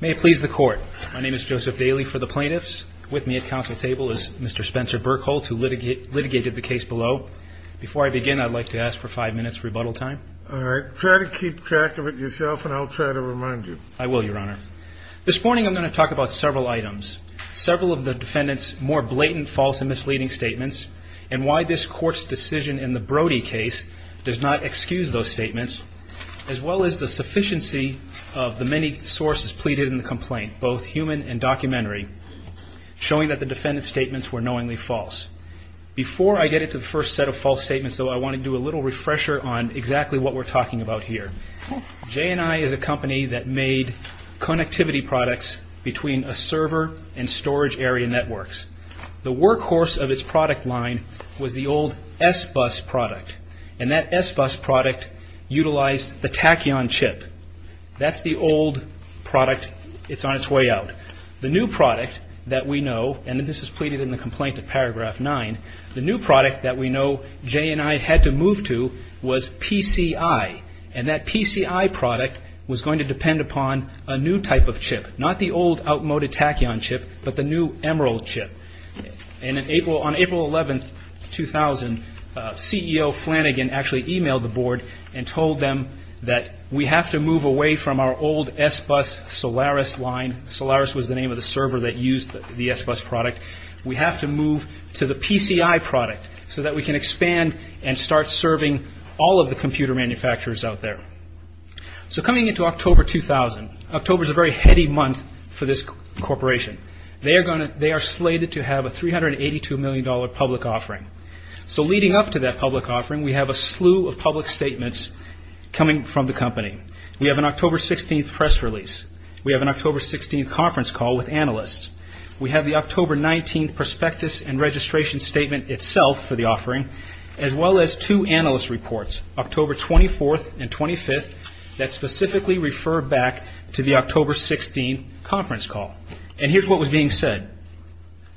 May it please the court. My name is Joseph Daley for the plaintiffs. With me at counsel's table is Mr. Spencer Burkholz, who litigated the case below. Before I begin, I'd like to ask for five minutes rebuttal time. All right. Try to keep track of it yourself, and I'll try to remind you. I will, Your Honor. This morning I'm going to talk about several items. Several of the defendant's more blatant false and misleading statements, and why this court's decision in the Brody case does not excuse those statements, as well as the sufficiency of the many sources pleaded in the complaint, both human and documentary, showing that the defendant's statements were knowingly false. Before I get into the first set of false statements, though, I want to do a little refresher on exactly what we're talking about here. JNI is a company that made connectivity products between a server and storage area networks. The workhorse of its product line was the old SBUS product, and that SBUS product utilized the Tachyon chip. That's the old product. It's on its way out. The new product that we know, and this is pleaded in the complaint at paragraph 9, the new product that we know JNI had to move to was PCI, and that PCI product was going to depend upon a new type of chip, not the old outmoded Tachyon chip, but the new Emerald chip. On April 11, 2000, CEO Flanagan actually emailed the board and told them that we have to move away from our old SBUS Solaris line. Solaris was the name of the server that used the SBUS product. We have to move to the PCI product so that we can expand and start serving all of the computer manufacturers out there. Coming into October 2000, October is a very heady month for this corporation. They are slated to have a $382 million public offering. Leading up to that public offering, we have a slew of public statements coming from the company. We have an October 16 press release. We have an October 16 conference call with analysts. We have the October 19 prospectus and registration statement itself for the offering, as well as two analyst reports, October 24th and 25th, that specifically refer back to the October 16 conference call. And here's what was being said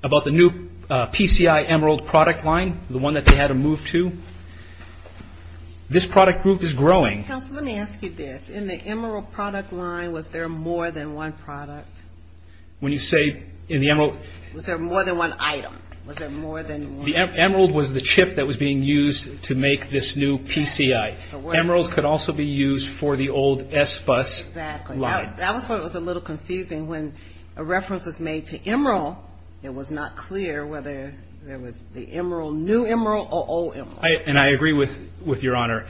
about the new PCI Emerald product line, the one that they had to move to. This product group is growing. Counsel, let me ask you this. In the Emerald product line, was there more than one product? When you say in the Emerald... Was there more than one item? The Emerald was the chip that was being used to make this new PCI. Emerald could also be used for the old SBUS line. That's why it was a little confusing. When a reference was made to Emerald, it was not clear whether there was the Emerald, new Emerald or old Emerald. And I agree with Your Honor.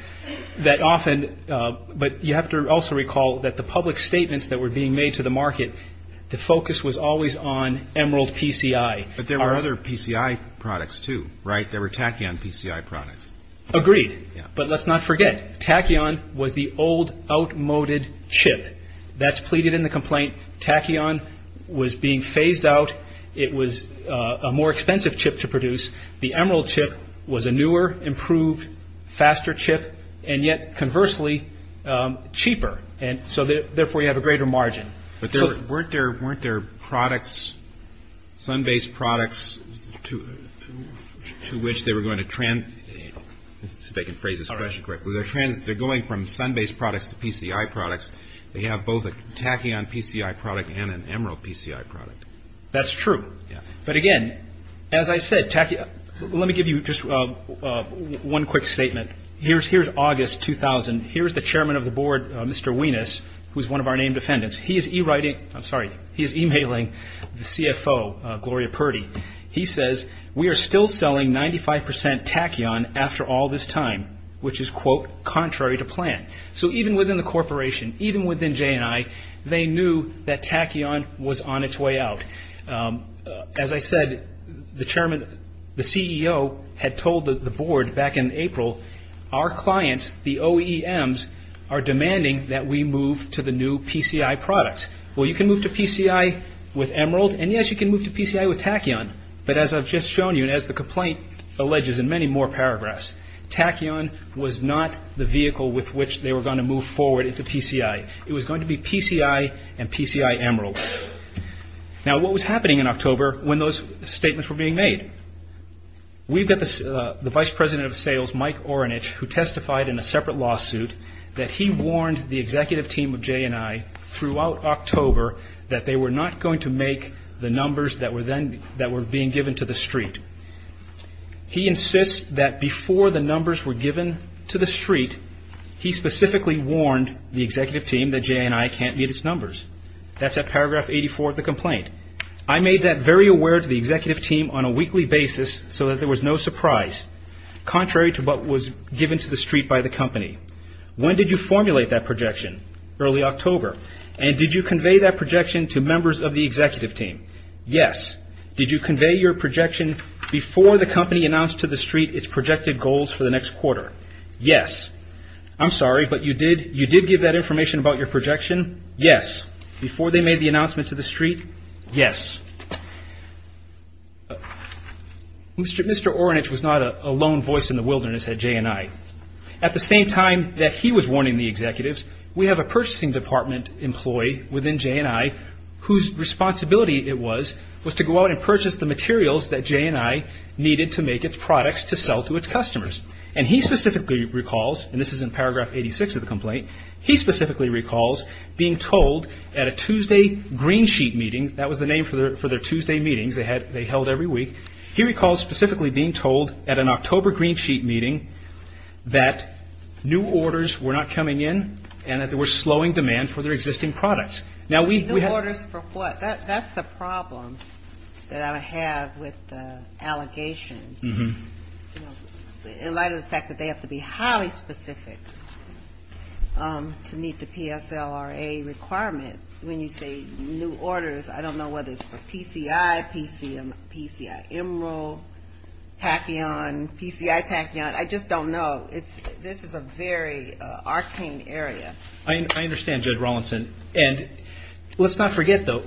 But you have to also recall that the public statements that were being made to the market, the focus was always on Emerald PCI. But there were other PCI products too, right? There were Tachyon PCI products. Agreed. But let's not forget, Tachyon was the old outmoded chip. That's pleaded in the complaint. Tachyon was being phased out. It was a more expensive chip to produce. The Emerald chip was a newer, improved, faster chip, and yet, conversely, cheaper. So therefore, you have a greater margin. But weren't there products, sun-based products, to which they were going to transfer? If I can phrase this question correctly. They're going from sun-based products to PCI products. They have both a Tachyon PCI product and an Emerald PCI product. That's true. Yeah. But again, as I said, Tachyon. Let me give you just one quick statement. Here's August 2000. Here's the Chairman of the Board, Mr. Wienes, who's one of our named defendants. He is e-mailing the CFO, Gloria Purdy. He says, we are still selling 95% Tachyon after all this time, which is, quote, contrary to plan. So even within the corporation, even within J&I, they knew that Tachyon was on its way out. As I said, the Chairman, the CEO had told the Board back in April, our clients, the OEMs, are demanding that we move to the new PCI products. Well, you can move to PCI with Emerald, and, yes, you can move to PCI with Tachyon. But as I've just shown you, and as the complaint alleges in many more paragraphs, Tachyon was not the vehicle with which they were going to move forward into PCI. It was going to be PCI and PCI Emerald. Now, what was happening in October when those statements were being made? We've got the Vice President of Sales, Mike Orenich, who testified in a separate lawsuit that he warned the executive team of J&I throughout October that they were not going to make the numbers that were being given to the street. He insists that before the numbers were given to the street, he specifically warned the executive team that J&I can't meet its numbers. That's at paragraph 84 of the complaint. I made that very aware to the executive team on a weekly basis so that there was no surprise, contrary to what was given to the street by the company. When did you formulate that projection? Early October. And did you convey that projection to members of the executive team? Yes. Did you convey your projection before the company announced to the street its projected goals for the next quarter? Yes. I'm sorry, but you did give that information about your projection? Yes. Before they made the announcement to the street? Yes. Mr. Orenich was not a lone voice in the wilderness at J&I. At the same time that he was warning the executives, we have a purchasing department employee within J&I whose responsibility it was was to go out and purchase the materials that J&I needed to make its products to sell to its customers. And he specifically recalls, and this is in paragraph 86 of the complaint, he specifically recalls being told at a Tuesday green sheet meeting, that was the name for their Tuesday meetings they held every week, he recalls specifically being told at an October green sheet meeting that new orders were not coming in and that they were slowing demand for their existing products. New orders for what? That's the problem that I have with the allegations. In light of the fact that they have to be highly specific to meet the PSLRA requirement, when you say new orders, I don't know whether it's for PCI, PCI Emerald, Tachyon, PCI Tachyon, I just don't know. This is a very arcane area. I understand, Judge Rawlinson. And let's not forget, though,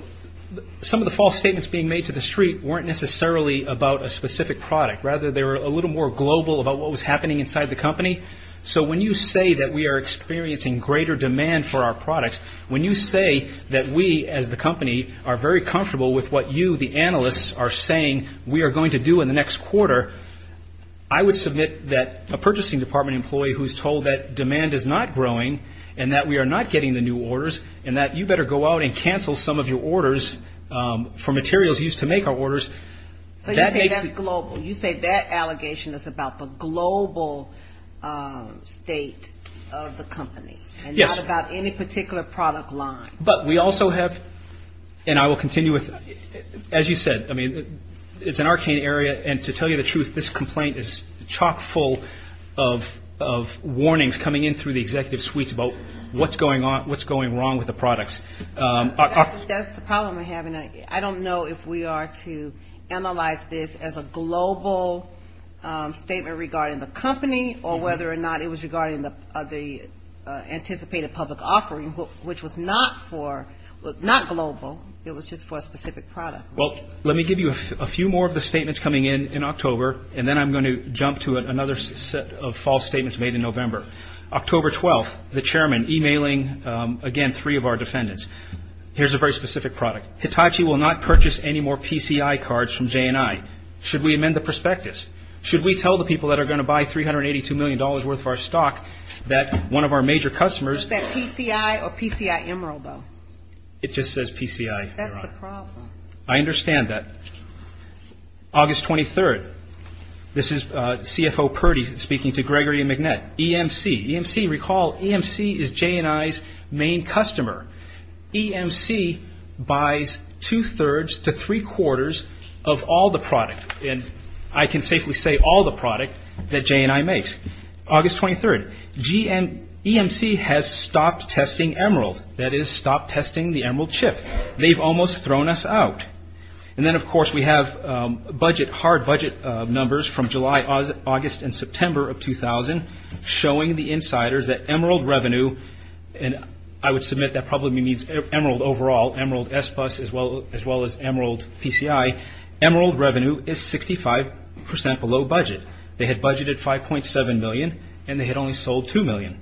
some of the false statements being made to the street weren't necessarily about a specific product. Rather, they were a little more global about what was happening inside the company. So when you say that we are experiencing greater demand for our products, when you say that we as the company are very comfortable with what you, the analysts, are saying we are going to do in the next quarter, I would submit that a purchasing department employee who is told that demand is not growing and that we are not getting the new orders and that you better go out and cancel some of your orders for materials used to make our orders. So you say that's global. You say that allegation is about the global state of the company. Yes. And not about any particular product line. But we also have, and I will continue with, as you said, I mean, it's an arcane area. And to tell you the truth, this complaint is chock full of warnings coming in through the executive suites about what's going on, what's going wrong with the products. That's the problem we're having. I don't know if we are to analyze this as a global statement regarding the company or whether or not it was regarding the anticipated public offering, which was not global. It was just for a specific product. Well, let me give you a few more of the statements coming in in October, and then I'm going to jump to another set of false statements made in November. October 12th, the chairman emailing, again, three of our defendants. Here's a very specific product. Hitachi will not purchase any more PCI cards from J&I. Should we amend the prospectus? Should we tell the people that are going to buy $382 million worth of our stock that one of our major customers. Is that PCI or PCI Emerald, though? It just says PCI. That's the problem. I understand that. August 23rd, this is CFO Purdy speaking to Gregory and McNett. EMC, recall, EMC is J&I's main customer. EMC buys two-thirds to three-quarters of all the product, and I can safely say all the product, that J&I makes. August 23rd, EMC has stopped testing Emerald, that is, stopped testing the Emerald chip. They've almost thrown us out. And then, of course, we have budget, hard budget numbers from July, August, and September of 2000, showing the insiders that Emerald revenue, and I would submit that probably means Emerald overall, Emerald SBUS as well as Emerald PCI, Emerald revenue is 65% below budget. They had budgeted $5.7 million, and they had only sold $2 million.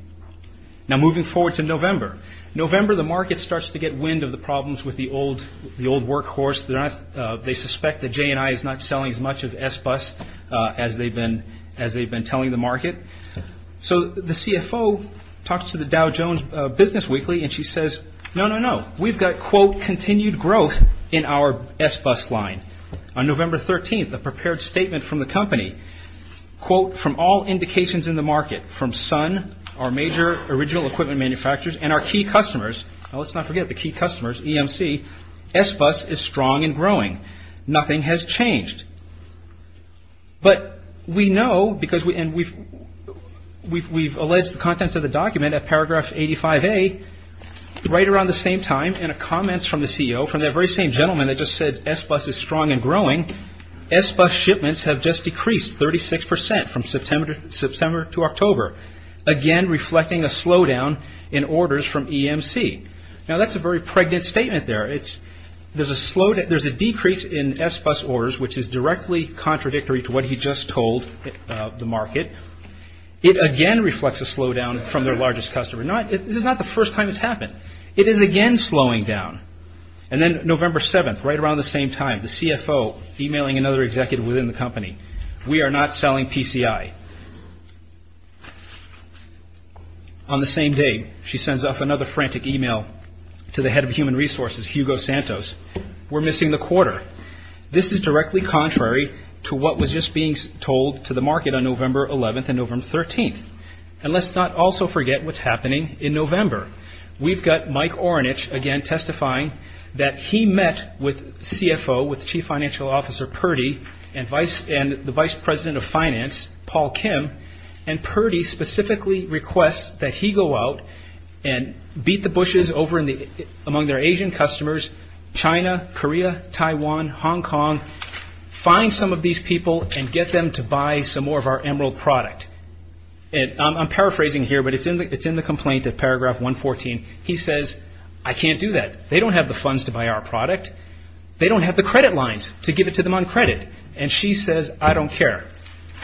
Now, moving forward to November. November, the market starts to get wind of the problems with the old workhorse. They suspect that J&I is not selling as much of SBUS as they've been telling the market. So the CFO talks to the Dow Jones Business Weekly, and she says, no, no, no. We've got, quote, continued growth in our SBUS line. On November 13th, a prepared statement from the company, quote, From all indications in the market, from Sun, our major original equipment manufacturers, and our key customers, now let's not forget the key customers, EMC, SBUS is strong and growing. Nothing has changed. But we know, because we've alleged the contents of the document at paragraph 85A, right around the same time, in a comment from the CEO, from that very same gentleman that just said SBUS is strong and growing, SBUS shipments have just decreased 36% from September to October, again reflecting a slowdown in orders from EMC. Now, that's a very pregnant statement there. There's a decrease in SBUS orders, which is directly contradictory to what he just told the market. It again reflects a slowdown from their largest customer. This is not the first time it's happened. It is again slowing down. And then November 7th, right around the same time, the CFO emailing another executive within the company, we are not selling PCI. On the same day, she sends off another frantic email to the head of human resources, Hugo Santos, we're missing the quarter. This is directly contrary to what was just being told to the market on November 11th and November 13th. And let's not also forget what's happening in November. We've got Mike Orenich again testifying that he met with CFO, with Chief Financial Officer Purdy and the Vice President of Finance, Paul Kim, and Purdy specifically requests that he go out and beat the bushes among their Asian customers, China, Korea, Taiwan, Hong Kong, find some of these people and get them to buy some more of our Emerald product. I'm paraphrasing here, but it's in the complaint at paragraph 114. He says, I can't do that. They don't have the funds to buy our product. They don't have the credit lines to give it to them on credit. And she says, I don't care.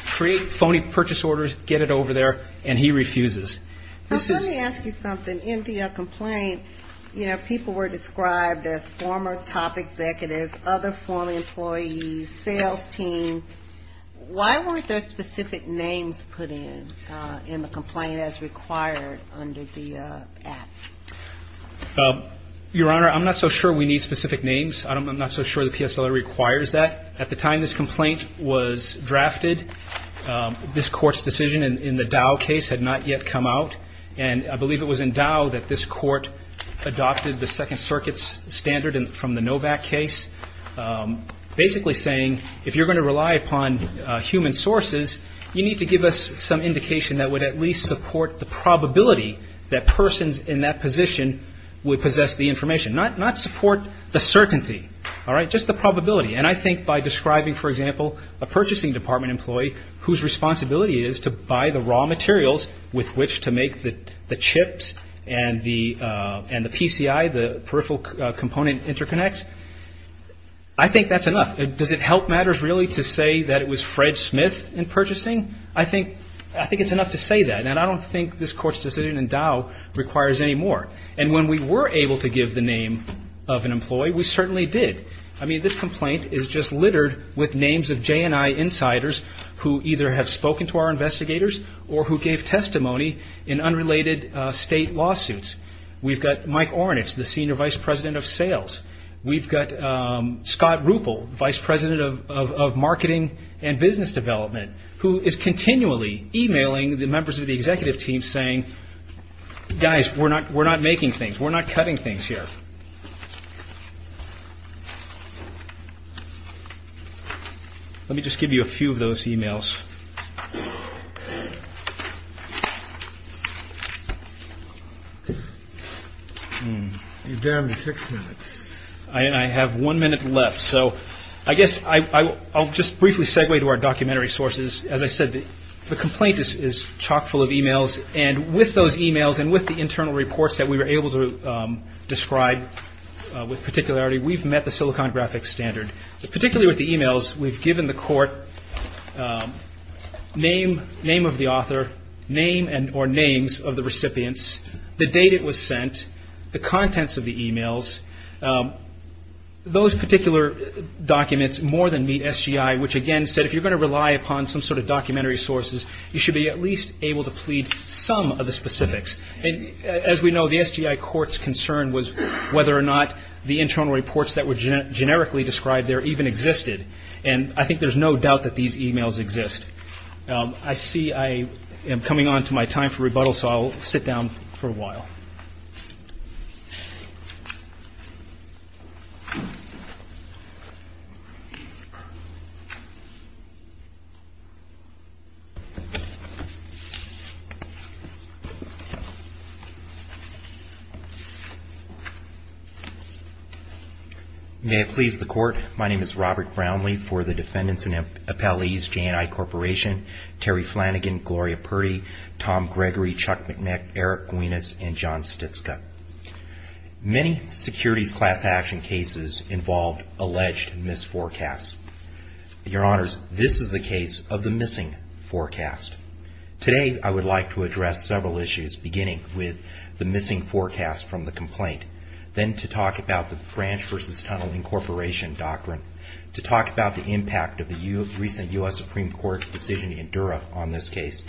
Create phony purchase orders, get it over there, and he refuses. Let me ask you something. In the complaint, you know, people were described as former top executives, other former employees, sales team. Why weren't there specific names put in in the complaint as required under the Act? Your Honor, I'm not so sure we need specific names. I'm not so sure the PSLA requires that. At the time this complaint was drafted, this Court's decision in the Dow case had not yet come out, and I believe it was in Dow that this Court adopted the Second Circuit's standard from the Novak case, basically saying if you're going to rely upon human sources, you need to give us some indication that would at least support the probability that persons in that position would possess the information, not support the certainty, all right, just the probability. And I think by describing, for example, a purchasing department employee whose responsibility it is to buy the raw materials with which to make the chips and the PCI, the peripheral component interconnects, I think that's enough. Does it help matters really to say that it was Fred Smith in purchasing? I think it's enough to say that, and I don't think this Court's decision in Dow requires any more. And when we were able to give the name of an employee, we certainly did. I mean, this complaint is just littered with names of J&I insiders who either have spoken to our investigators or who gave testimony in unrelated state lawsuits. We've got Mike Ornitz, the Senior Vice President of Sales. We've got Scott Ruppel, Vice President of Marketing and Business Development, who is continually emailing the members of the executive team saying, guys, we're not making things, we're not cutting things here. Let me just give you a few of those emails. You're down to six minutes. I have one minute left. So I guess I'll just briefly segue to our documentary sources. As I said, the complaint is chock full of emails. And with those emails and with the internal reports that we were able to describe with particularity, we've met the Silicon Graphics standard. Particularly with the emails, we've given the Court name of the author, name or names of the recipients, the date it was sent, the contents of the emails. Those particular documents more than meet SGI, which, again, said if you're going to rely upon some sort of some of the specifics. As we know, the SGI Court's concern was whether or not the internal reports that were generically described there even existed. And I think there's no doubt that these emails exist. I see I am coming on to my time for rebuttal, so I'll sit down for a while. May it please the Court. My name is Robert Brownlee for the Defendants and Appellees J&I Corporation. Terry Flanagan, Gloria Purdy, Tom Gregory, Chuck McNeck, Eric Guinness, and John Stitzka. Many securities class action cases involved alleged misforecasts. Your Honors, this is the case of the missing forecast. Today, I would like to address several issues, beginning with the missing forecast from the complaint, then to talk about the branch versus tunnel incorporation doctrine, to talk about the impact of the recent U.S. Supreme Court decision in Dura on this case,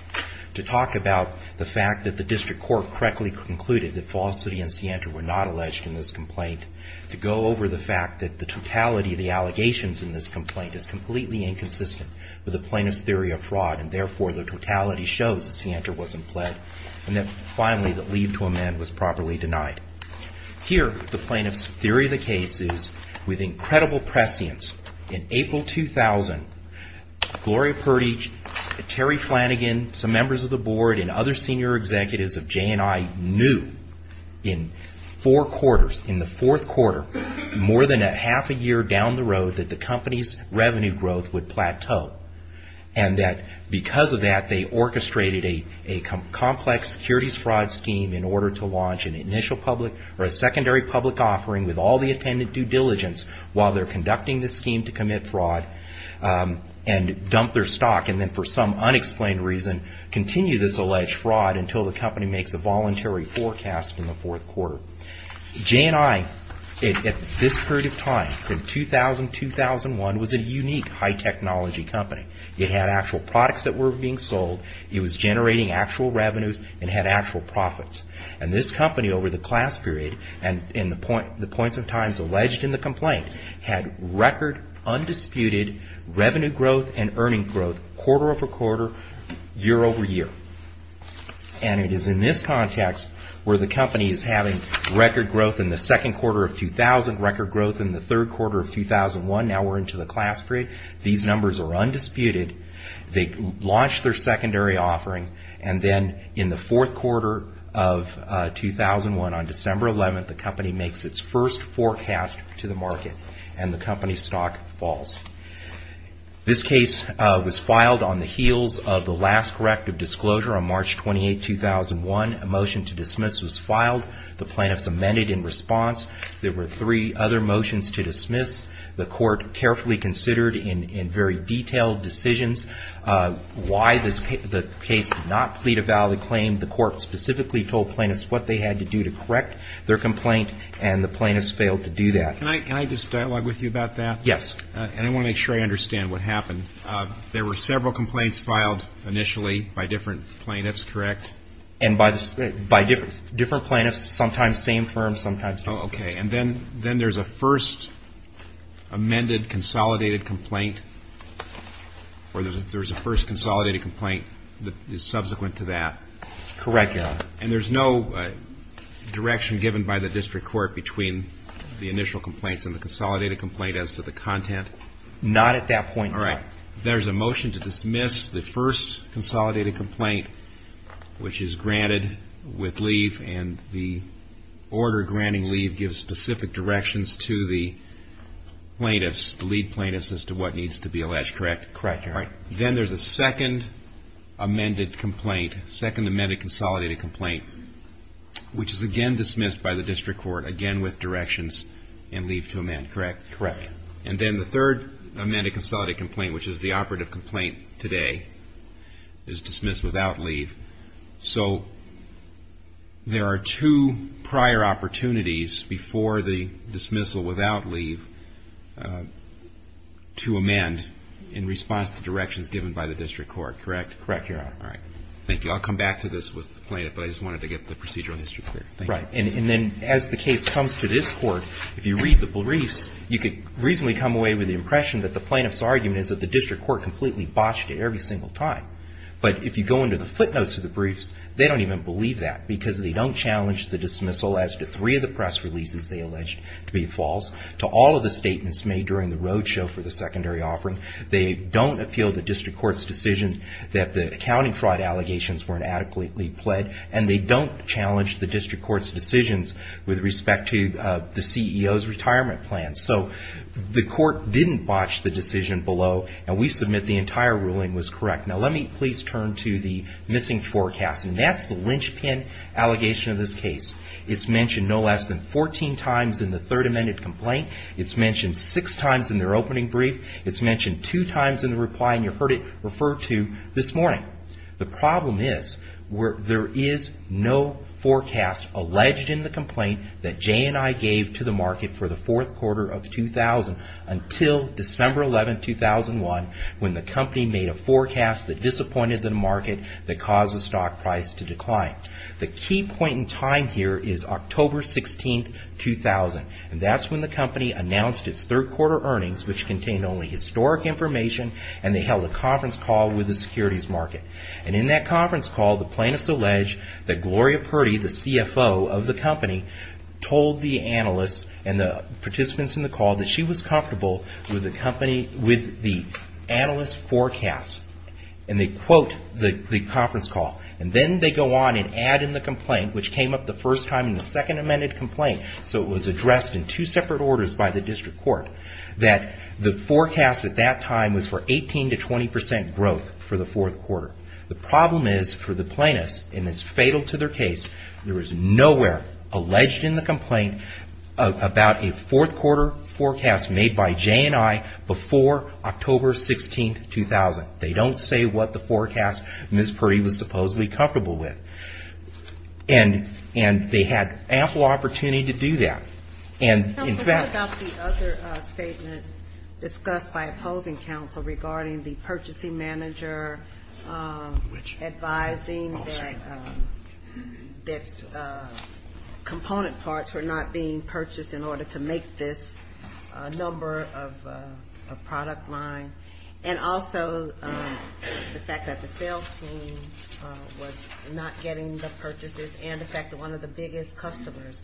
to talk about the fact that the District Court correctly concluded that Falsity and Sienta were not alleged in this complaint, to go over the fact that the totality of the allegations in this complaint is completely inconsistent with the plaintiff's theory of fraud, and therefore, the totality shows that Sienta wasn't pled, and that finally, the leave to amend was properly denied. Here, the plaintiff's theory of the case is, with incredible prescience, in April 2000, Gloria Purdy, Terry Flanagan, some members of the board, and other senior executives of J&I, knew in four quarters, in the fourth quarter, more than a half a year down the road, that the company's revenue growth would plateau, and that because of that, they orchestrated a complex securities fraud scheme in order to launch an initial public, or a secondary public offering with all the attendant due diligence while they're conducting the scheme to commit fraud, and dump their stock, and then for some unexplained reason, continue this alleged fraud until the company makes a voluntary forecast in the fourth quarter. J&I, at this period of time, in 2000-2001, was a unique high technology company. It had actual products that were being sold, it was generating actual revenues, and had actual profits. And this company, over the class period, and in the points of time alleged in the complaint, had record, undisputed revenue growth and earning growth, quarter over quarter, year over year. And it is in this context where the company is having record growth in the second quarter of 2000, record growth in the third quarter of 2001, now we're into the class period, these numbers are undisputed, they launched their secondary offering, and then in the fourth quarter of 2001, on December 11th, the company makes its first forecast to the market, and the company's stock falls. This case was filed on the heels of the last corrective disclosure on March 28, 2001. A motion to dismiss was filed, the plaintiffs amended in response. There were three other motions to dismiss. The court carefully considered, in very detailed decisions, why the case did not plead a valid claim. The court specifically told plaintiffs what they had to do to correct their complaint, and the plaintiffs failed to do that. Can I just dialogue with you about that? Yes. And I want to make sure I understand what happened. There were several complaints filed initially by different plaintiffs, correct? And by different plaintiffs, sometimes same firm, sometimes different firm. And then there's a first amended consolidated complaint, or there's a first consolidated complaint that is subsequent to that? Correct, Your Honor. And there's no direction given by the district court between the initial complaints and the consolidated complaint as to the content? Not at that point, Your Honor. All right. There's a motion to dismiss the first consolidated complaint, which is granted with leave, and the order granting leave gives specific directions to the plaintiffs, the lead plaintiffs, as to what needs to be alleged, correct? Correct, Your Honor. All right. Then there's a second amended complaint, second amended consolidated complaint, which is again dismissed by the district court, again with directions and leave to amend, correct? Correct. And then the third amended consolidated complaint, which is the operative complaint today, is dismissed without leave. So there are two prior opportunities before the dismissal without leave to amend in response to directions given by the district court, correct? Correct, Your Honor. All right. Thank you. I'll come back to this with the plaintiff, but I just wanted to get the procedural history clear. Right. And then as the case comes to this court, if you read the briefs, you could reasonably come away with the impression that the plaintiff's argument is that the district court completely botched it every single time. But if you go into the footnotes of the briefs, they don't even believe that because they don't challenge the dismissal as to three of the press releases they alleged to be false, to all of the statements made during the roadshow for the secondary offering. They don't appeal the district court's decision that the accounting fraud allegations weren't adequately pled, and they don't challenge the district court's decisions with respect to the CEO's retirement plan. So the court didn't botch the decision below, and we submit the entire ruling was correct. Now let me please turn to the missing forecast, and that's the linchpin allegation of this case. It's mentioned no less than 14 times in the third amended complaint. It's mentioned six times in their opening brief. It's mentioned two times in the reply, and you heard it referred to this morning. The problem is, there is no forecast alleged in the complaint that J&I gave to the market for the fourth quarter of 2000 until December 11, 2001, when the company made a forecast that disappointed the market, that caused the stock price to decline. The key point in time here is October 16, 2000, and that's when the company announced its third quarter earnings, which contained only historic information, and they held a conference call with the securities market. In that conference call, the plaintiffs allege that Gloria Purdy, the CFO of the company, told the analysts and the participants in the call that she was comfortable with the analyst's forecast. They quote the conference call, and then they go on and add in the complaint, which came up the first time in the second amended complaint. So it was addressed in two separate orders by the district court, that the forecast at that time was for 18 to 20 percent growth for the fourth quarter. The problem is, for the plaintiffs, and it's fatal to their case, there is nowhere alleged in the complaint about a fourth quarter forecast made by J&I before October 16, 2000. They don't say what the forecast Ms. Purdy was supposedly comfortable with. And they had ample opportunity to do that. And in fact the other statements discussed by opposing counsel regarding the purchasing manager, advising that component parts were not being purchased in order to make this number of product line, and also the fact that the sales team was not getting the purchases, and the fact that one of the biggest customers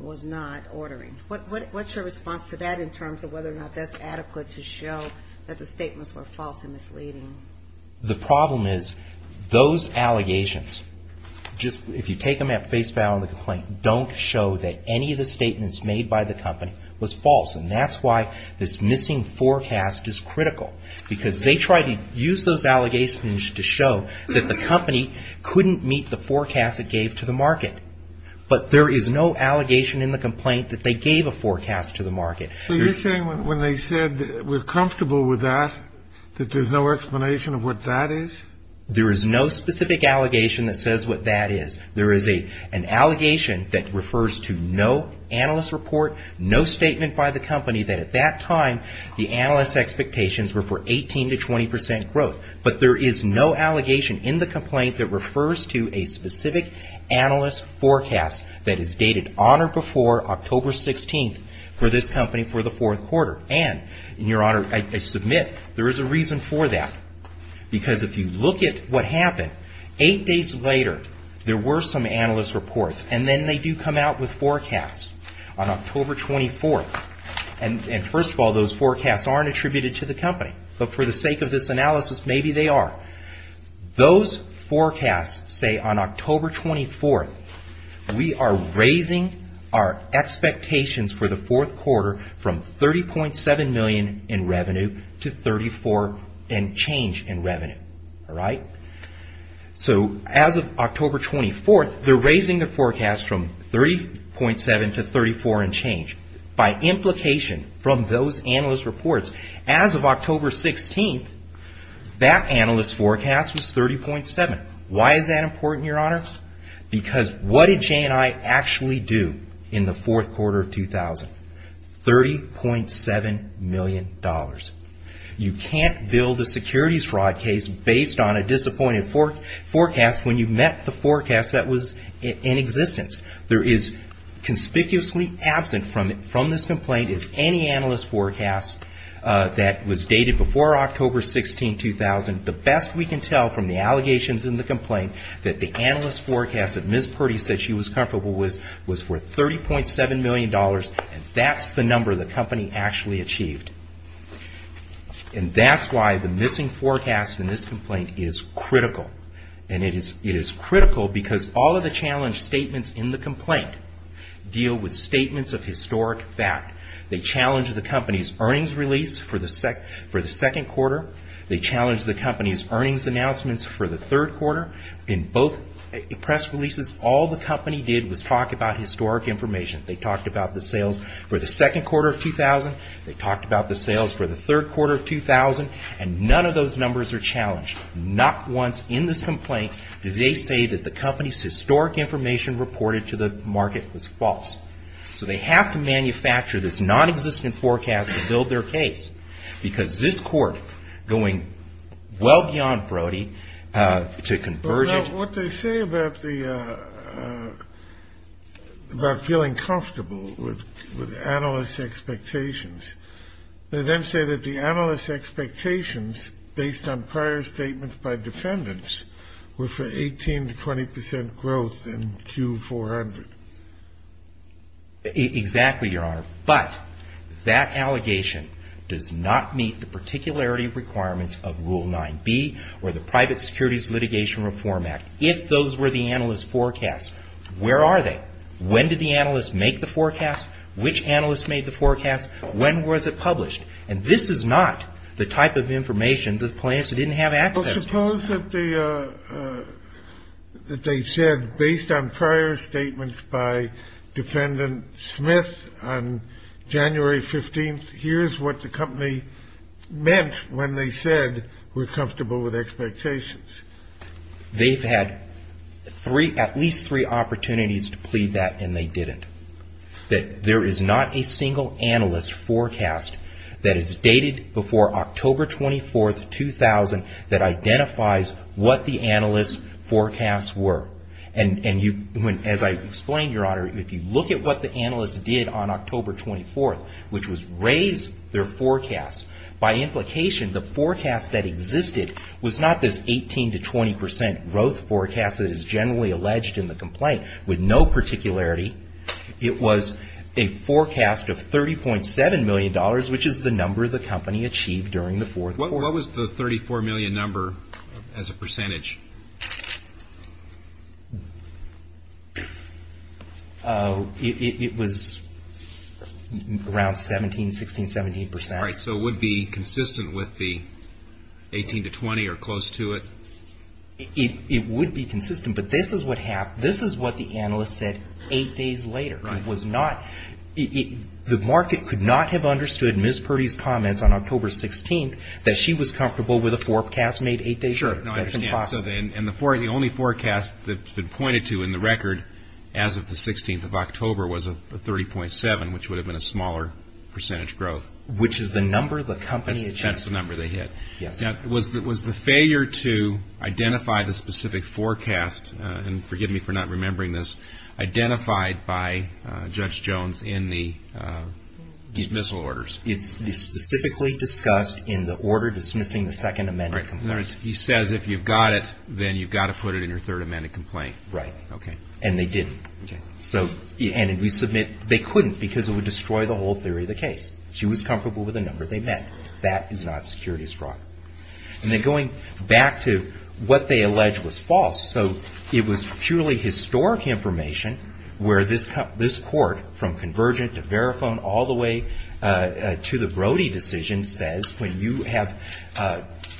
was not ordering. What's your response to that in terms of whether or not that's adequate to show that the statements were false and misleading? The problem is, those allegations, if you take them at face value in the complaint, don't show that any of the statements made by the company was false. And that's why this missing forecast is critical. Because they try to use those allegations to show that the company couldn't meet the forecast it gave to the market. But there is no allegation in the complaint that they gave a forecast to the market. So you're saying when they said we're comfortable with that, that there's no explanation of what that is? There is no specific allegation that says what that is. There is an allegation that refers to no analyst report, no statement by the company that at that time the analyst expectations were for 18 to 20 percent growth. But there is no allegation in the complaint that refers to a specific analyst forecast that is dated on or before October 16th for this company for the fourth quarter. And, in your honor, I submit there is a reason for that. Because if you look at what happened, eight days later there were some analyst reports and then they do come out with forecasts on October 24th. And, first of all, those forecasts aren't attributed to the company. But for the sake of this analysis, maybe they are. Those forecasts say on October 24th we are raising our expectations for the fourth quarter from $30.7 million in revenue to $34 million in change in revenue. So, as of October 24th, they're raising the forecast from $30.7 million to $34 million in change by implication from those analyst reports. As of October 16th, that analyst forecast was $30.7 million. Why is that important, your honors? Because what did J&I actually do in the fourth quarter of 2000? $30.7 million. You can't build a securities fraud case based on a disappointed forecast when you met the forecast that was in existence. There is conspicuously absent from this complaint is any analyst forecast that was dated before October 16, 2000. The best we can tell from the allegations in the complaint that the analyst forecast that Ms. Purdy said she was comfortable with was worth $30.7 million, and that's the number the company actually achieved. And that's why the missing forecast in this complaint is critical. And it is critical because all of the challenge statements in the complaint deal with statements of historic fact. They challenge the company's earnings release for the second quarter. They challenge the company's earnings announcements for the third quarter. In both press releases, all the company did was talk about historic information. They talked about the sales for the second quarter of 2000. They talked about the sales for the third quarter of 2000, and none of those numbers are challenged. Not once in this complaint do they say that the company's historic information reported to the market was false. So they have to manufacture this nonexistent forecast to build their case because this court, going well beyond Brody to convergent. What they say about feeling comfortable with analyst expectations, they then say that the analyst expectations based on prior statements by defendants were for 18 to 20 percent growth in Q400. Exactly, Your Honor. But that allegation does not meet the particularity requirements of Rule 9B or the Private Securities Litigation Reform Act. If those were the analyst forecast, where are they? When did the analyst make the forecast? Which analyst made the forecast? When was it published? And this is not the type of information the plaintiffs didn't have access to. I suppose that they said based on prior statements by defendant Smith on January 15th, here's what the company meant when they said we're comfortable with expectations. They've had at least three opportunities to plead that, and they didn't. There is not a single analyst forecast that is dated before October 24th, 2000 that identifies what the analyst forecasts were. As I explained, Your Honor, if you look at what the analyst did on October 24th, which was raise their forecast, by implication the forecast that existed was not this 18 to 20 percent growth forecast that is generally alleged in the complaint with no particularity. It was a forecast of $30.7 million, which is the number the company achieved during the fourth quarter. What was the 34 million number as a percentage? It was around 17, 16, 17 percent. All right, so it would be consistent with the 18 to 20 or close to it? It would be consistent, but this is what happened. This is what the analyst said eight days later. The market could not have understood Ms. Purdy's comments on October 16th that she was comfortable with a forecast made eight days later. And the only forecast that's been pointed to in the record as of the 16th of October was a 30.7, which would have been a smaller percentage growth. That's the number they hit. Was the failure to identify the specific forecast, and forgive me for not remembering this, identified by Judge Jones in the dismissal orders? It's specifically discussed in the order dismissing the Second Amendment complaint. In other words, he says if you've got it, then you've got to put it in your Third Amendment complaint. Right, and they didn't. They couldn't because it would destroy the whole theory of the case. She was comfortable with the number they met. That is not securities fraud. And then going back to what they allege was false. It was purely historic information where this court, from Convergent to Verifone all the way to the Brody decision, says when you have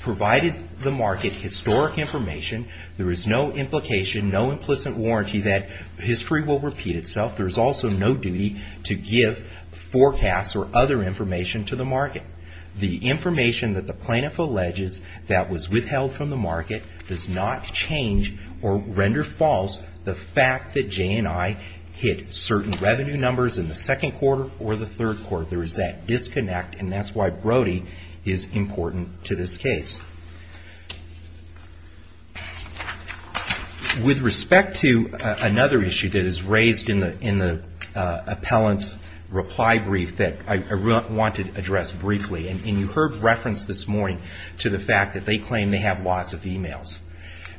provided the market historic information, there is no implication, no implicit warranty that history will repeat itself. There's also no duty to give forecasts or other information to the market. The information that the plaintiff alleges that was withheld from the market does not change or render false the fact that J&I hit certain revenue numbers in the second quarter or the third quarter. There is that disconnect, and that's why Brody is important to this case. With respect to another issue that is raised in the appellant's reply brief that I want to address briefly, and you heard reference this morning to the fact that they claim they have lots of e-mails.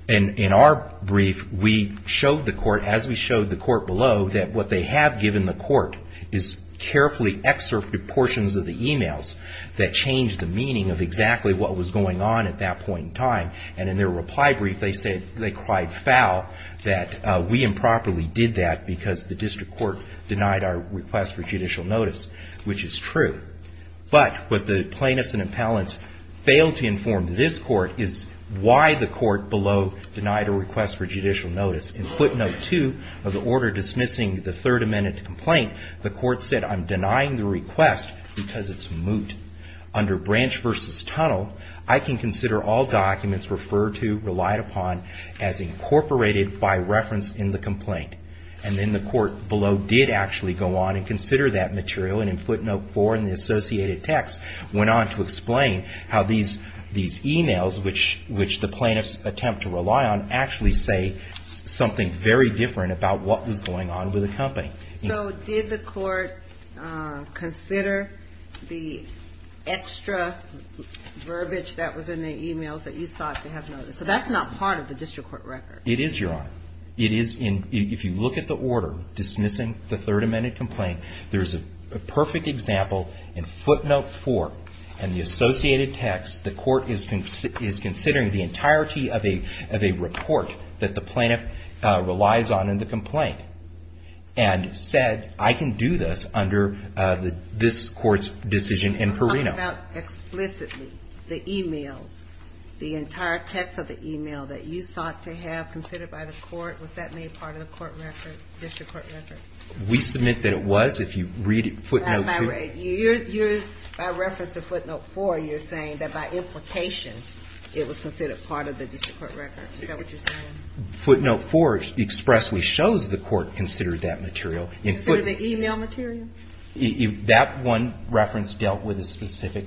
In our brief, as we showed the court below, what they have given the court is carefully excerpted portions of the e-mails that change the meaning of exactly what was going on at that point in time. And in their reply brief, they said they cried foul that we improperly did that because the district court denied our request for judicial notice, which is true. But what the plaintiffs and appellants failed to inform this court is why the court below denied a request for judicial notice. In footnote two of the order dismissing the Third Amendment complaint, the court said, I'm denying the request because it's moot. Under branch versus tunnel, I can consider all documents referred to, relied upon, as incorporated by reference in the complaint. And the court below did actually go on and consider that material. And in footnote four in the associated text went on to explain how these e-mails, which the plaintiffs attempt to rely on, actually say something very different about what was going on with the company. So did the court consider the extra verbiage that was in the e-mails that you sought to have noticed? So that's not part of the district court record. It is, Your Honor. If you look at the order dismissing the Third Amendment complaint, there's a perfect example in footnote four in the associated text. The court is considering the entirety of a report that the plaintiff relies on in the complaint and said, I can do this under this court's decision in Perino. Can you talk about explicitly the e-mails, the entire text of the e-mail that you sought to have considered by the court? Was that made part of the court record, district court record? We submit that it was, if you read footnote two. By reference to footnote four, you're saying that by implication it was considered part of the district court record. Is that what you're saying? Footnote four expressly shows the court considered that material. The e-mail material? That one reference dealt with a specific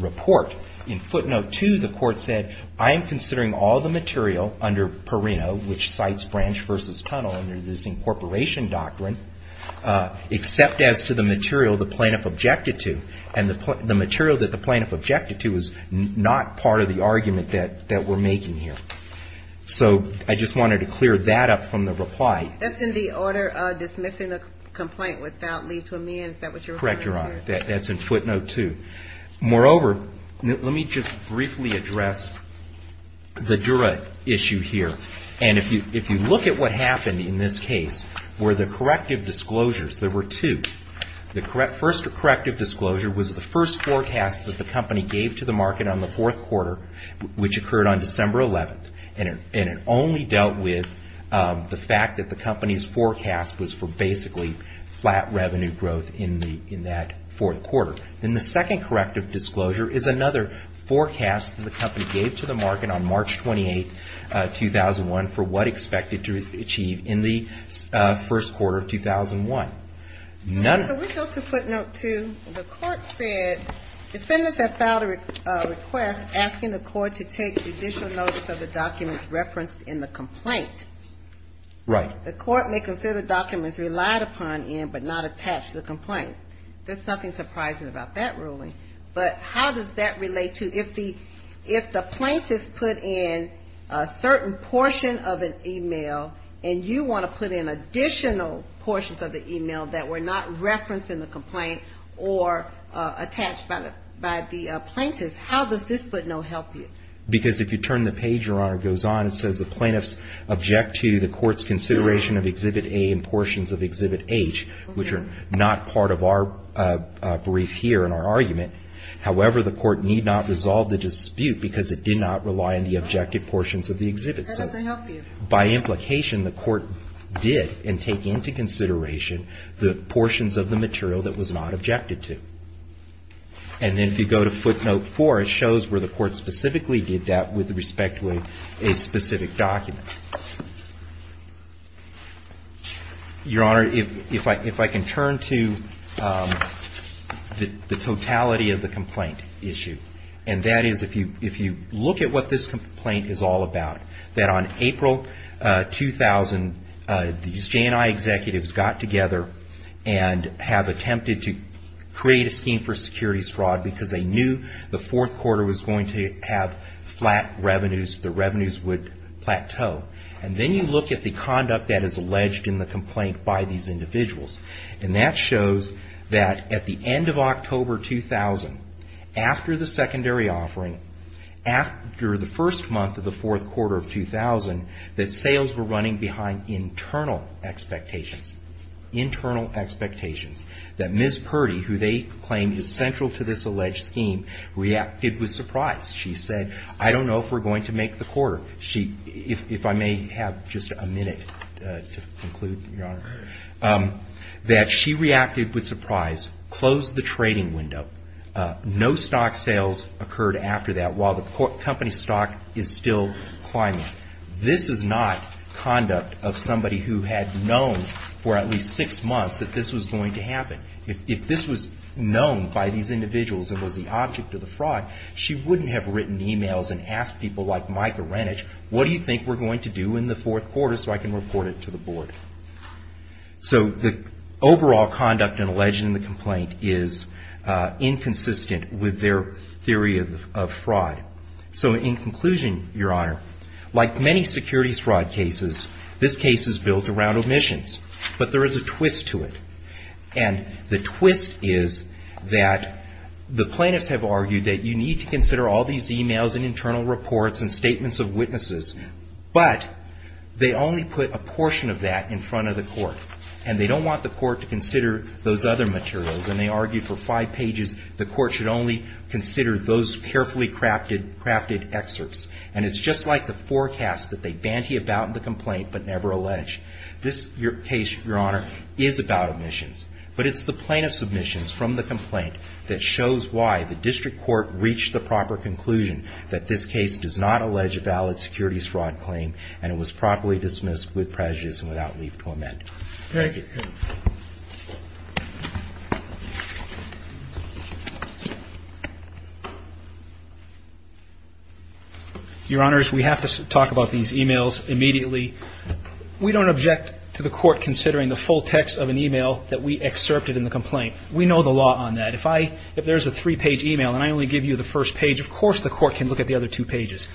report. In footnote two, the court said, I am considering all the material under Perino, which cites Branch v. Tunnel under this incorporation doctrine, except as to the material the plaintiff objected to. The material that the plaintiff objected to is not part of the argument that we're making here. I just wanted to clear that up from the reply. That's in the order of dismissing a complaint without leave to amend. That's in footnote two. Moreover, let me just briefly address the Dura issue here. If you look at what happened in this case, where the corrective disclosures, there were two. The first corrective disclosure was the first forecast that the company gave to the market on the fourth quarter, which occurred on December 11th. It only dealt with the fact that the company's forecast was for basically flat revenue growth in that fourth quarter. The second corrective disclosure is another forecast that the company gave to the market on March 28, 2011. For what expected to achieve in the first quarter of 2001. None of the footnote two, the court said, defendants have filed a request asking the court to take additional notes of the documents referenced in the complaint. The court may consider documents relied upon in but not attached to the complaint. There's nothing surprising about that ruling. But how does that relate to, if the plaintiffs put in a certain portion of an email and you want to put in additional portions of the email that were not referenced in the complaint or attached by the plaintiffs, how does this footnote help you? Because if you turn the page, Your Honor, it goes on and says the plaintiffs object to the court's consideration of exhibit A and portions of exhibit H, which are not part of our brief here in our argument. However, the court need not resolve the dispute because it did not rely on the objective portions of the exhibit. So by implication, the court did and take into consideration the portions of the material that was not objected to. And then if you go to footnote four, it shows where the court specifically did that with respect to a specific document. Your Honor, if I can turn to the totality of the complaint issue. And that is, if you look at what this complaint is all about, that on April 2000, these J&I executives got together and have attempted to create a scheme for securities fraud because they knew the fourth quarter was going to have flat revenues. The revenues would plateau. And then you look at the conduct that is alleged in the complaint by these individuals. And that shows that at the end of October 2000, after the secondary offering, after the first month of the fourth quarter of 2000, that sales were running behind internal expectations. That Ms. Purdy, who they claimed is central to this alleged scheme, reacted with surprise. She said, I don't know if we're going to make the quarter. If I may have just a minute to conclude, Your Honor. That she reacted with surprise, closed the trading window. No stock sales occurred after that while the company stock is still climbing. This is not conduct of somebody who had known for at least six months that this was going to happen. If this was known by these individuals and was the object of the fraud, she wouldn't have written e-mails and asked people like Micah Renich, what do you think we're going to do in the fourth quarter so I can report it to the board? So the overall conduct and alleged in the complaint is inconsistent with their theory of fraud. So in conclusion, Your Honor, like many securities fraud cases, this case is built around omissions. But there is a twist to it. And the twist is that the plaintiffs have argued that you need to consider all these e-mails and internal reports and statements of witnesses, but they only put a portion of that in front of the court. And they don't want the court to consider those other materials. And they argued for five pages the court should only consider those carefully crafted excerpts. And it's just like the forecast that they banty about in the complaint but never allege. This case, Your Honor, is about omissions. But it's the plaintiff's omissions from the complaint that shows why the district court reached the proper conclusion that this case does not allege a valid securities fraud claim and it was properly dismissed with prejudice and without leave to amend. Your Honors, we have to talk about these e-mails immediately. We don't object to the court considering the full text of an e-mail that we excerpted in the complaint. We know the law on that. If there's a three-page e-mail and I only give you the first page, of course the court can look at the other two pages.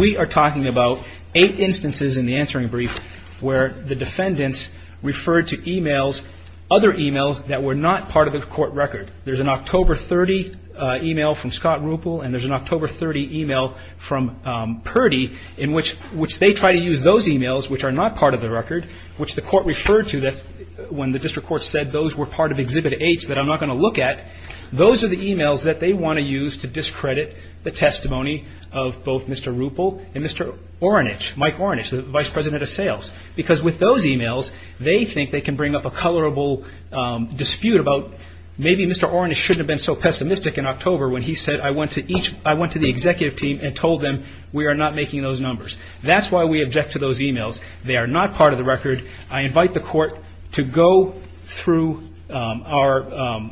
We are talking about eight instances in the answering brief where the defendants referred to e-mails, other e-mails, that were not part of the court record. There's an October 30 e-mail from Scott Ruppel and there's an October 30 e-mail from Purdy in which they try to use those e-mails which are not part of the record, which the court referred to when the district court said those were part of Exhibit H that I'm not going to look at. Those are the e-mails that they want to use to discredit the testimony of both Mr. Ruppel and Mr. Ornish, Mike Ornish, the Vice President of Sales, because with those e-mails they think they can bring up a colorable dispute about maybe Mr. Ornish shouldn't have been so pessimistic in October when he said, I went to the executive team and told them we are not making those numbers. That's why we object to those e-mails. They are not part of the record. I invite the court to go through our,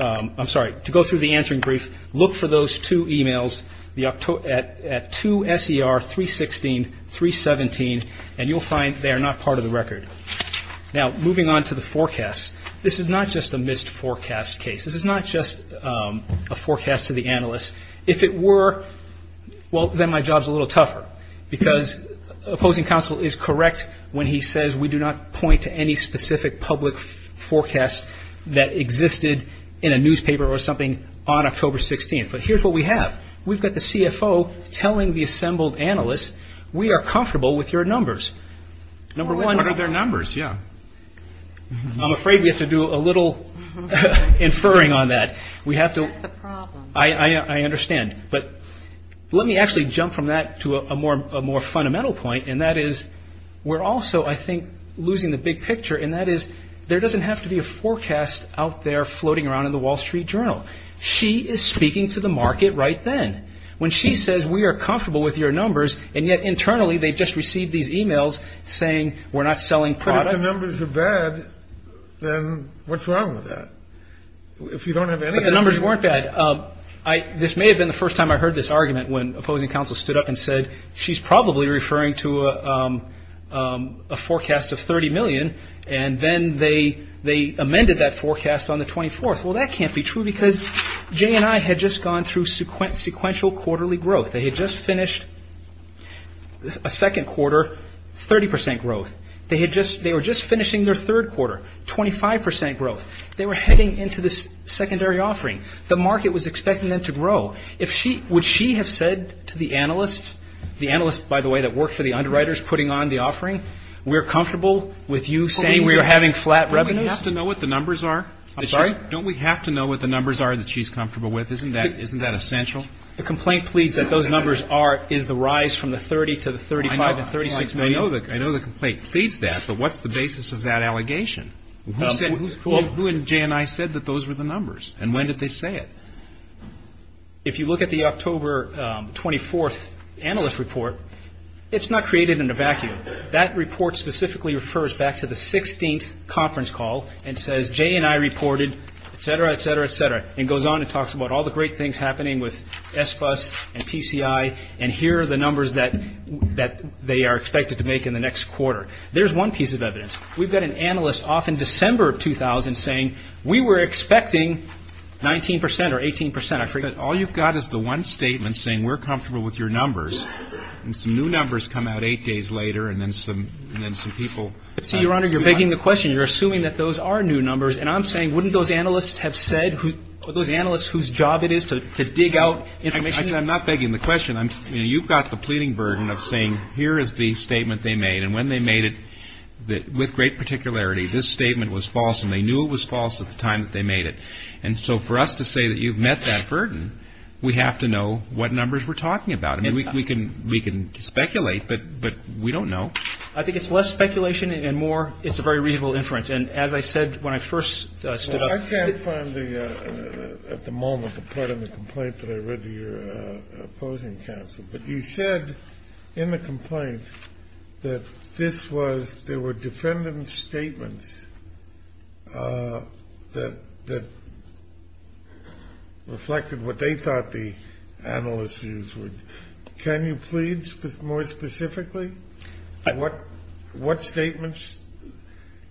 I'm sorry, to go through the answering brief, look for those two e-mails at 2 SER 316, 317, and you'll find they are not part of the record. Now, moving on to the forecast, this is not just a missed forecast case. This is not just a forecast to the analyst. If it were, well, then my job is a little tougher, because opposing counsel is correct when he says we do not point to any specific public forecast that existed in a newspaper or something on October 16th. But here's what we have. We've got the CFO telling the assembled analysts, we are comfortable with your numbers. I'm afraid we have to do a little inferring on that. I understand, but let me actually jump from that to a more fundamental point. And that is we're also, I think, losing the big picture. And that is there doesn't have to be a forecast out there floating around in the Wall Street Journal. She is speaking to the market right then when she says we are comfortable with your numbers. And yet internally, they just received these e-mails saying we're not selling product. If your numbers are bad, then what's wrong with that? If you don't have any numbers, weren't bad. This may have been the first time I heard this argument when opposing counsel stood up and said she's probably referring to a forecast of 30 million. And then they they amended that forecast on the 24th. Well, that can't be true, because Jane and I had just gone through sequent sequential quarterly growth. They had just finished a second quarter, 30 percent growth. They had just they were just finishing their third quarter, 25 percent growth. They were heading into this secondary offering. The market was expecting them to grow. If she would she have said to the analysts, the analysts, by the way, that work for the underwriters putting on the offering, we're comfortable with you saying we are having flat revenues to know what the numbers are. I'm sorry. Don't we have to know what the numbers are that she's comfortable with? Isn't that isn't that essential? The complaint pleads that those numbers are is the rise from the 30 to the 35 and 36. I know that I know the complaint pleads that. But what's the basis of that allegation? Who said who and Jane? I said that those were the numbers. And when did they say it? If you look at the October 24th analyst report, it's not created in a vacuum. That report specifically refers back to the 16th conference call and says Jane and I reported, et cetera, et cetera, et cetera. And goes on and talks about all the great things happening with this bus and PCI. And here are the numbers that that they are expected to make in the next quarter. There's one piece of evidence. We've got an analyst off in December of 2000 saying we were expecting 19 percent or 18 percent. I forget. All you've got is the one statement saying we're comfortable with your numbers. And some new numbers come out eight days later. And then some and then some people see you're under. You're begging the question. You're assuming that those are new numbers. And I'm saying, wouldn't those analysts have said those analysts whose job it is to dig out information? I'm not begging the question. You've got the pleading burden of saying here is the statement they made. And when they made it with great particularity, this statement was false and they knew it was false at the time that they made it. And so for us to say that you've met that burden, we have to know what numbers we're talking about. I mean, we can we can speculate, but but we don't know. I think it's less speculation and more. It's a very reasonable inference. And as I said, when I first stood up. I can't find the at the moment the part of the complaint that I read to your opposing counsel. But you said in the complaint that this was there were defendants statements that that reflected what they thought the analyst's views were. Can you please put more specifically what what statements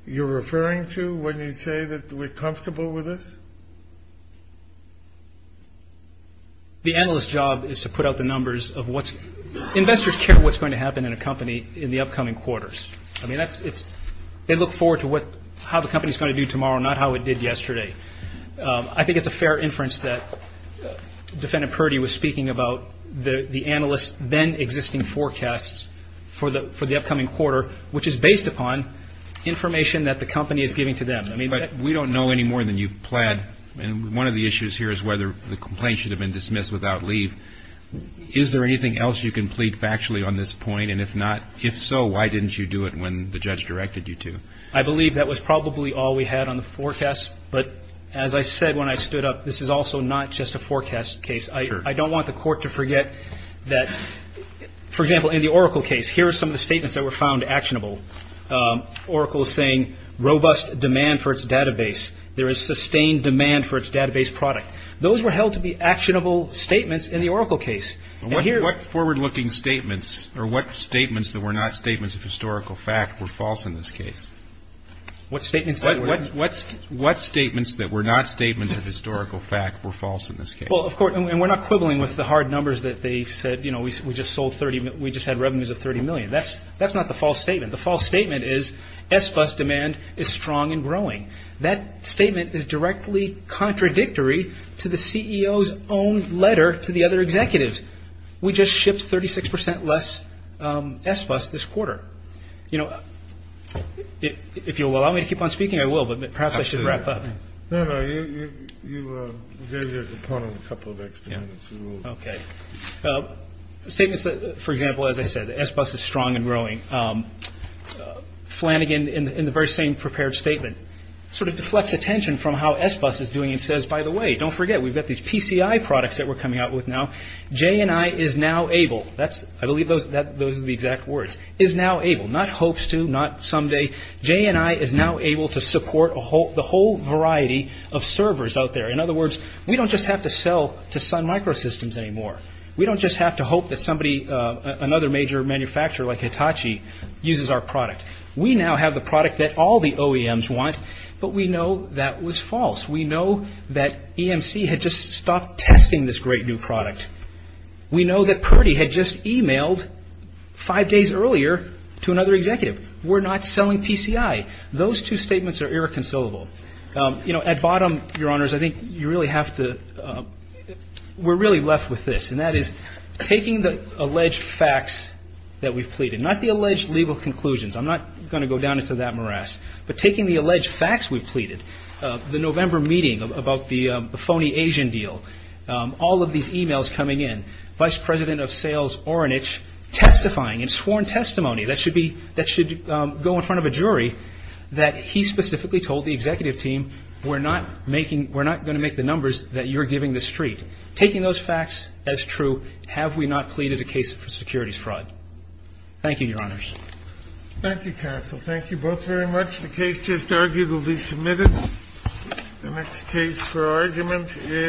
you're referring to when you say that we're comfortable with this? The analyst's job is to put out the numbers of what's investors care what's going to happen in a company in the upcoming quarters. I mean, that's it's they look forward to what how the company is going to do tomorrow, not how it did yesterday. I think it's a fair inference that defendant Purdy was speaking about the analyst then existing forecasts for the for the upcoming quarter, which is based upon information that the company is giving to them. I mean, we don't know any more than you've planned. And one of the issues here is whether the complaint should have been dismissed without leave. Is there anything else you can plead factually on this point? And if not, if so, why didn't you do it when the judge directed you to? I believe that was probably all we had on the forecast. But as I said, when I stood up, this is also not just a forecast case. I don't want the court to forget that, for example, in the Oracle case, here are some of the statements that were found actionable. Oracle is saying robust demand for its database. There is sustained demand for its database product. Those were held to be actionable statements in the Oracle case. What forward looking statements or what statements that were not statements of historical fact were false in this case? What statements? What statements that were not statements of historical fact were false in this case? Well, of course, and we're not quibbling with the hard numbers that they said. You know, we just sold 30. We just had revenues of 30 million. That's that's not the false statement. The false statement is S-Bus demand is strong and growing. That statement is directly contradictory to the CEO's own letter to the other executives. We just shipped 36 percent less S-Bus this quarter. You know, if you'll allow me to keep on speaking, I will. But perhaps I should wrap up. No, no, you did a couple of. Yeah. OK. Statements, for example, as I said, S-Bus is strong and growing. Flanagan, in the very same prepared statement, sort of deflects attention from how S-Bus is doing and says, by the way, don't forget. We've got these PCI products that we're coming out with now. JNI is now able. That's I believe those that those are the exact words is now able not hopes to not someday. JNI is now able to support a whole the whole variety of servers out there. In other words, we don't just have to sell to Sun Microsystems anymore. We don't just have to hope that somebody another major manufacturer like Hitachi uses our product. We now have the product that all the OEMs want. But we know that was false. We know that EMC had just stopped testing this great new product. We know that Purdy had just emailed five days earlier to another executive. We're not selling PCI. Those two statements are irreconcilable. You know, at bottom, your honors, I think you really have to. We're really left with this, and that is taking the alleged facts that we've pleaded, not the alleged legal conclusions. I'm not going to go down into that morass, but taking the alleged facts we've pleaded, the November meeting about the phony Asian deal, all of these emails coming in. Vice President of Sales Ornish testifying in sworn testimony. That should go in front of a jury that he specifically told the executive team, we're not going to make the numbers that you're giving the street. Taking those facts as true, have we not pleaded a case for securities fraud? Thank you, your honors. Thank you, counsel. Thank you both very much. The case just arguably submitted. The next case for argument is.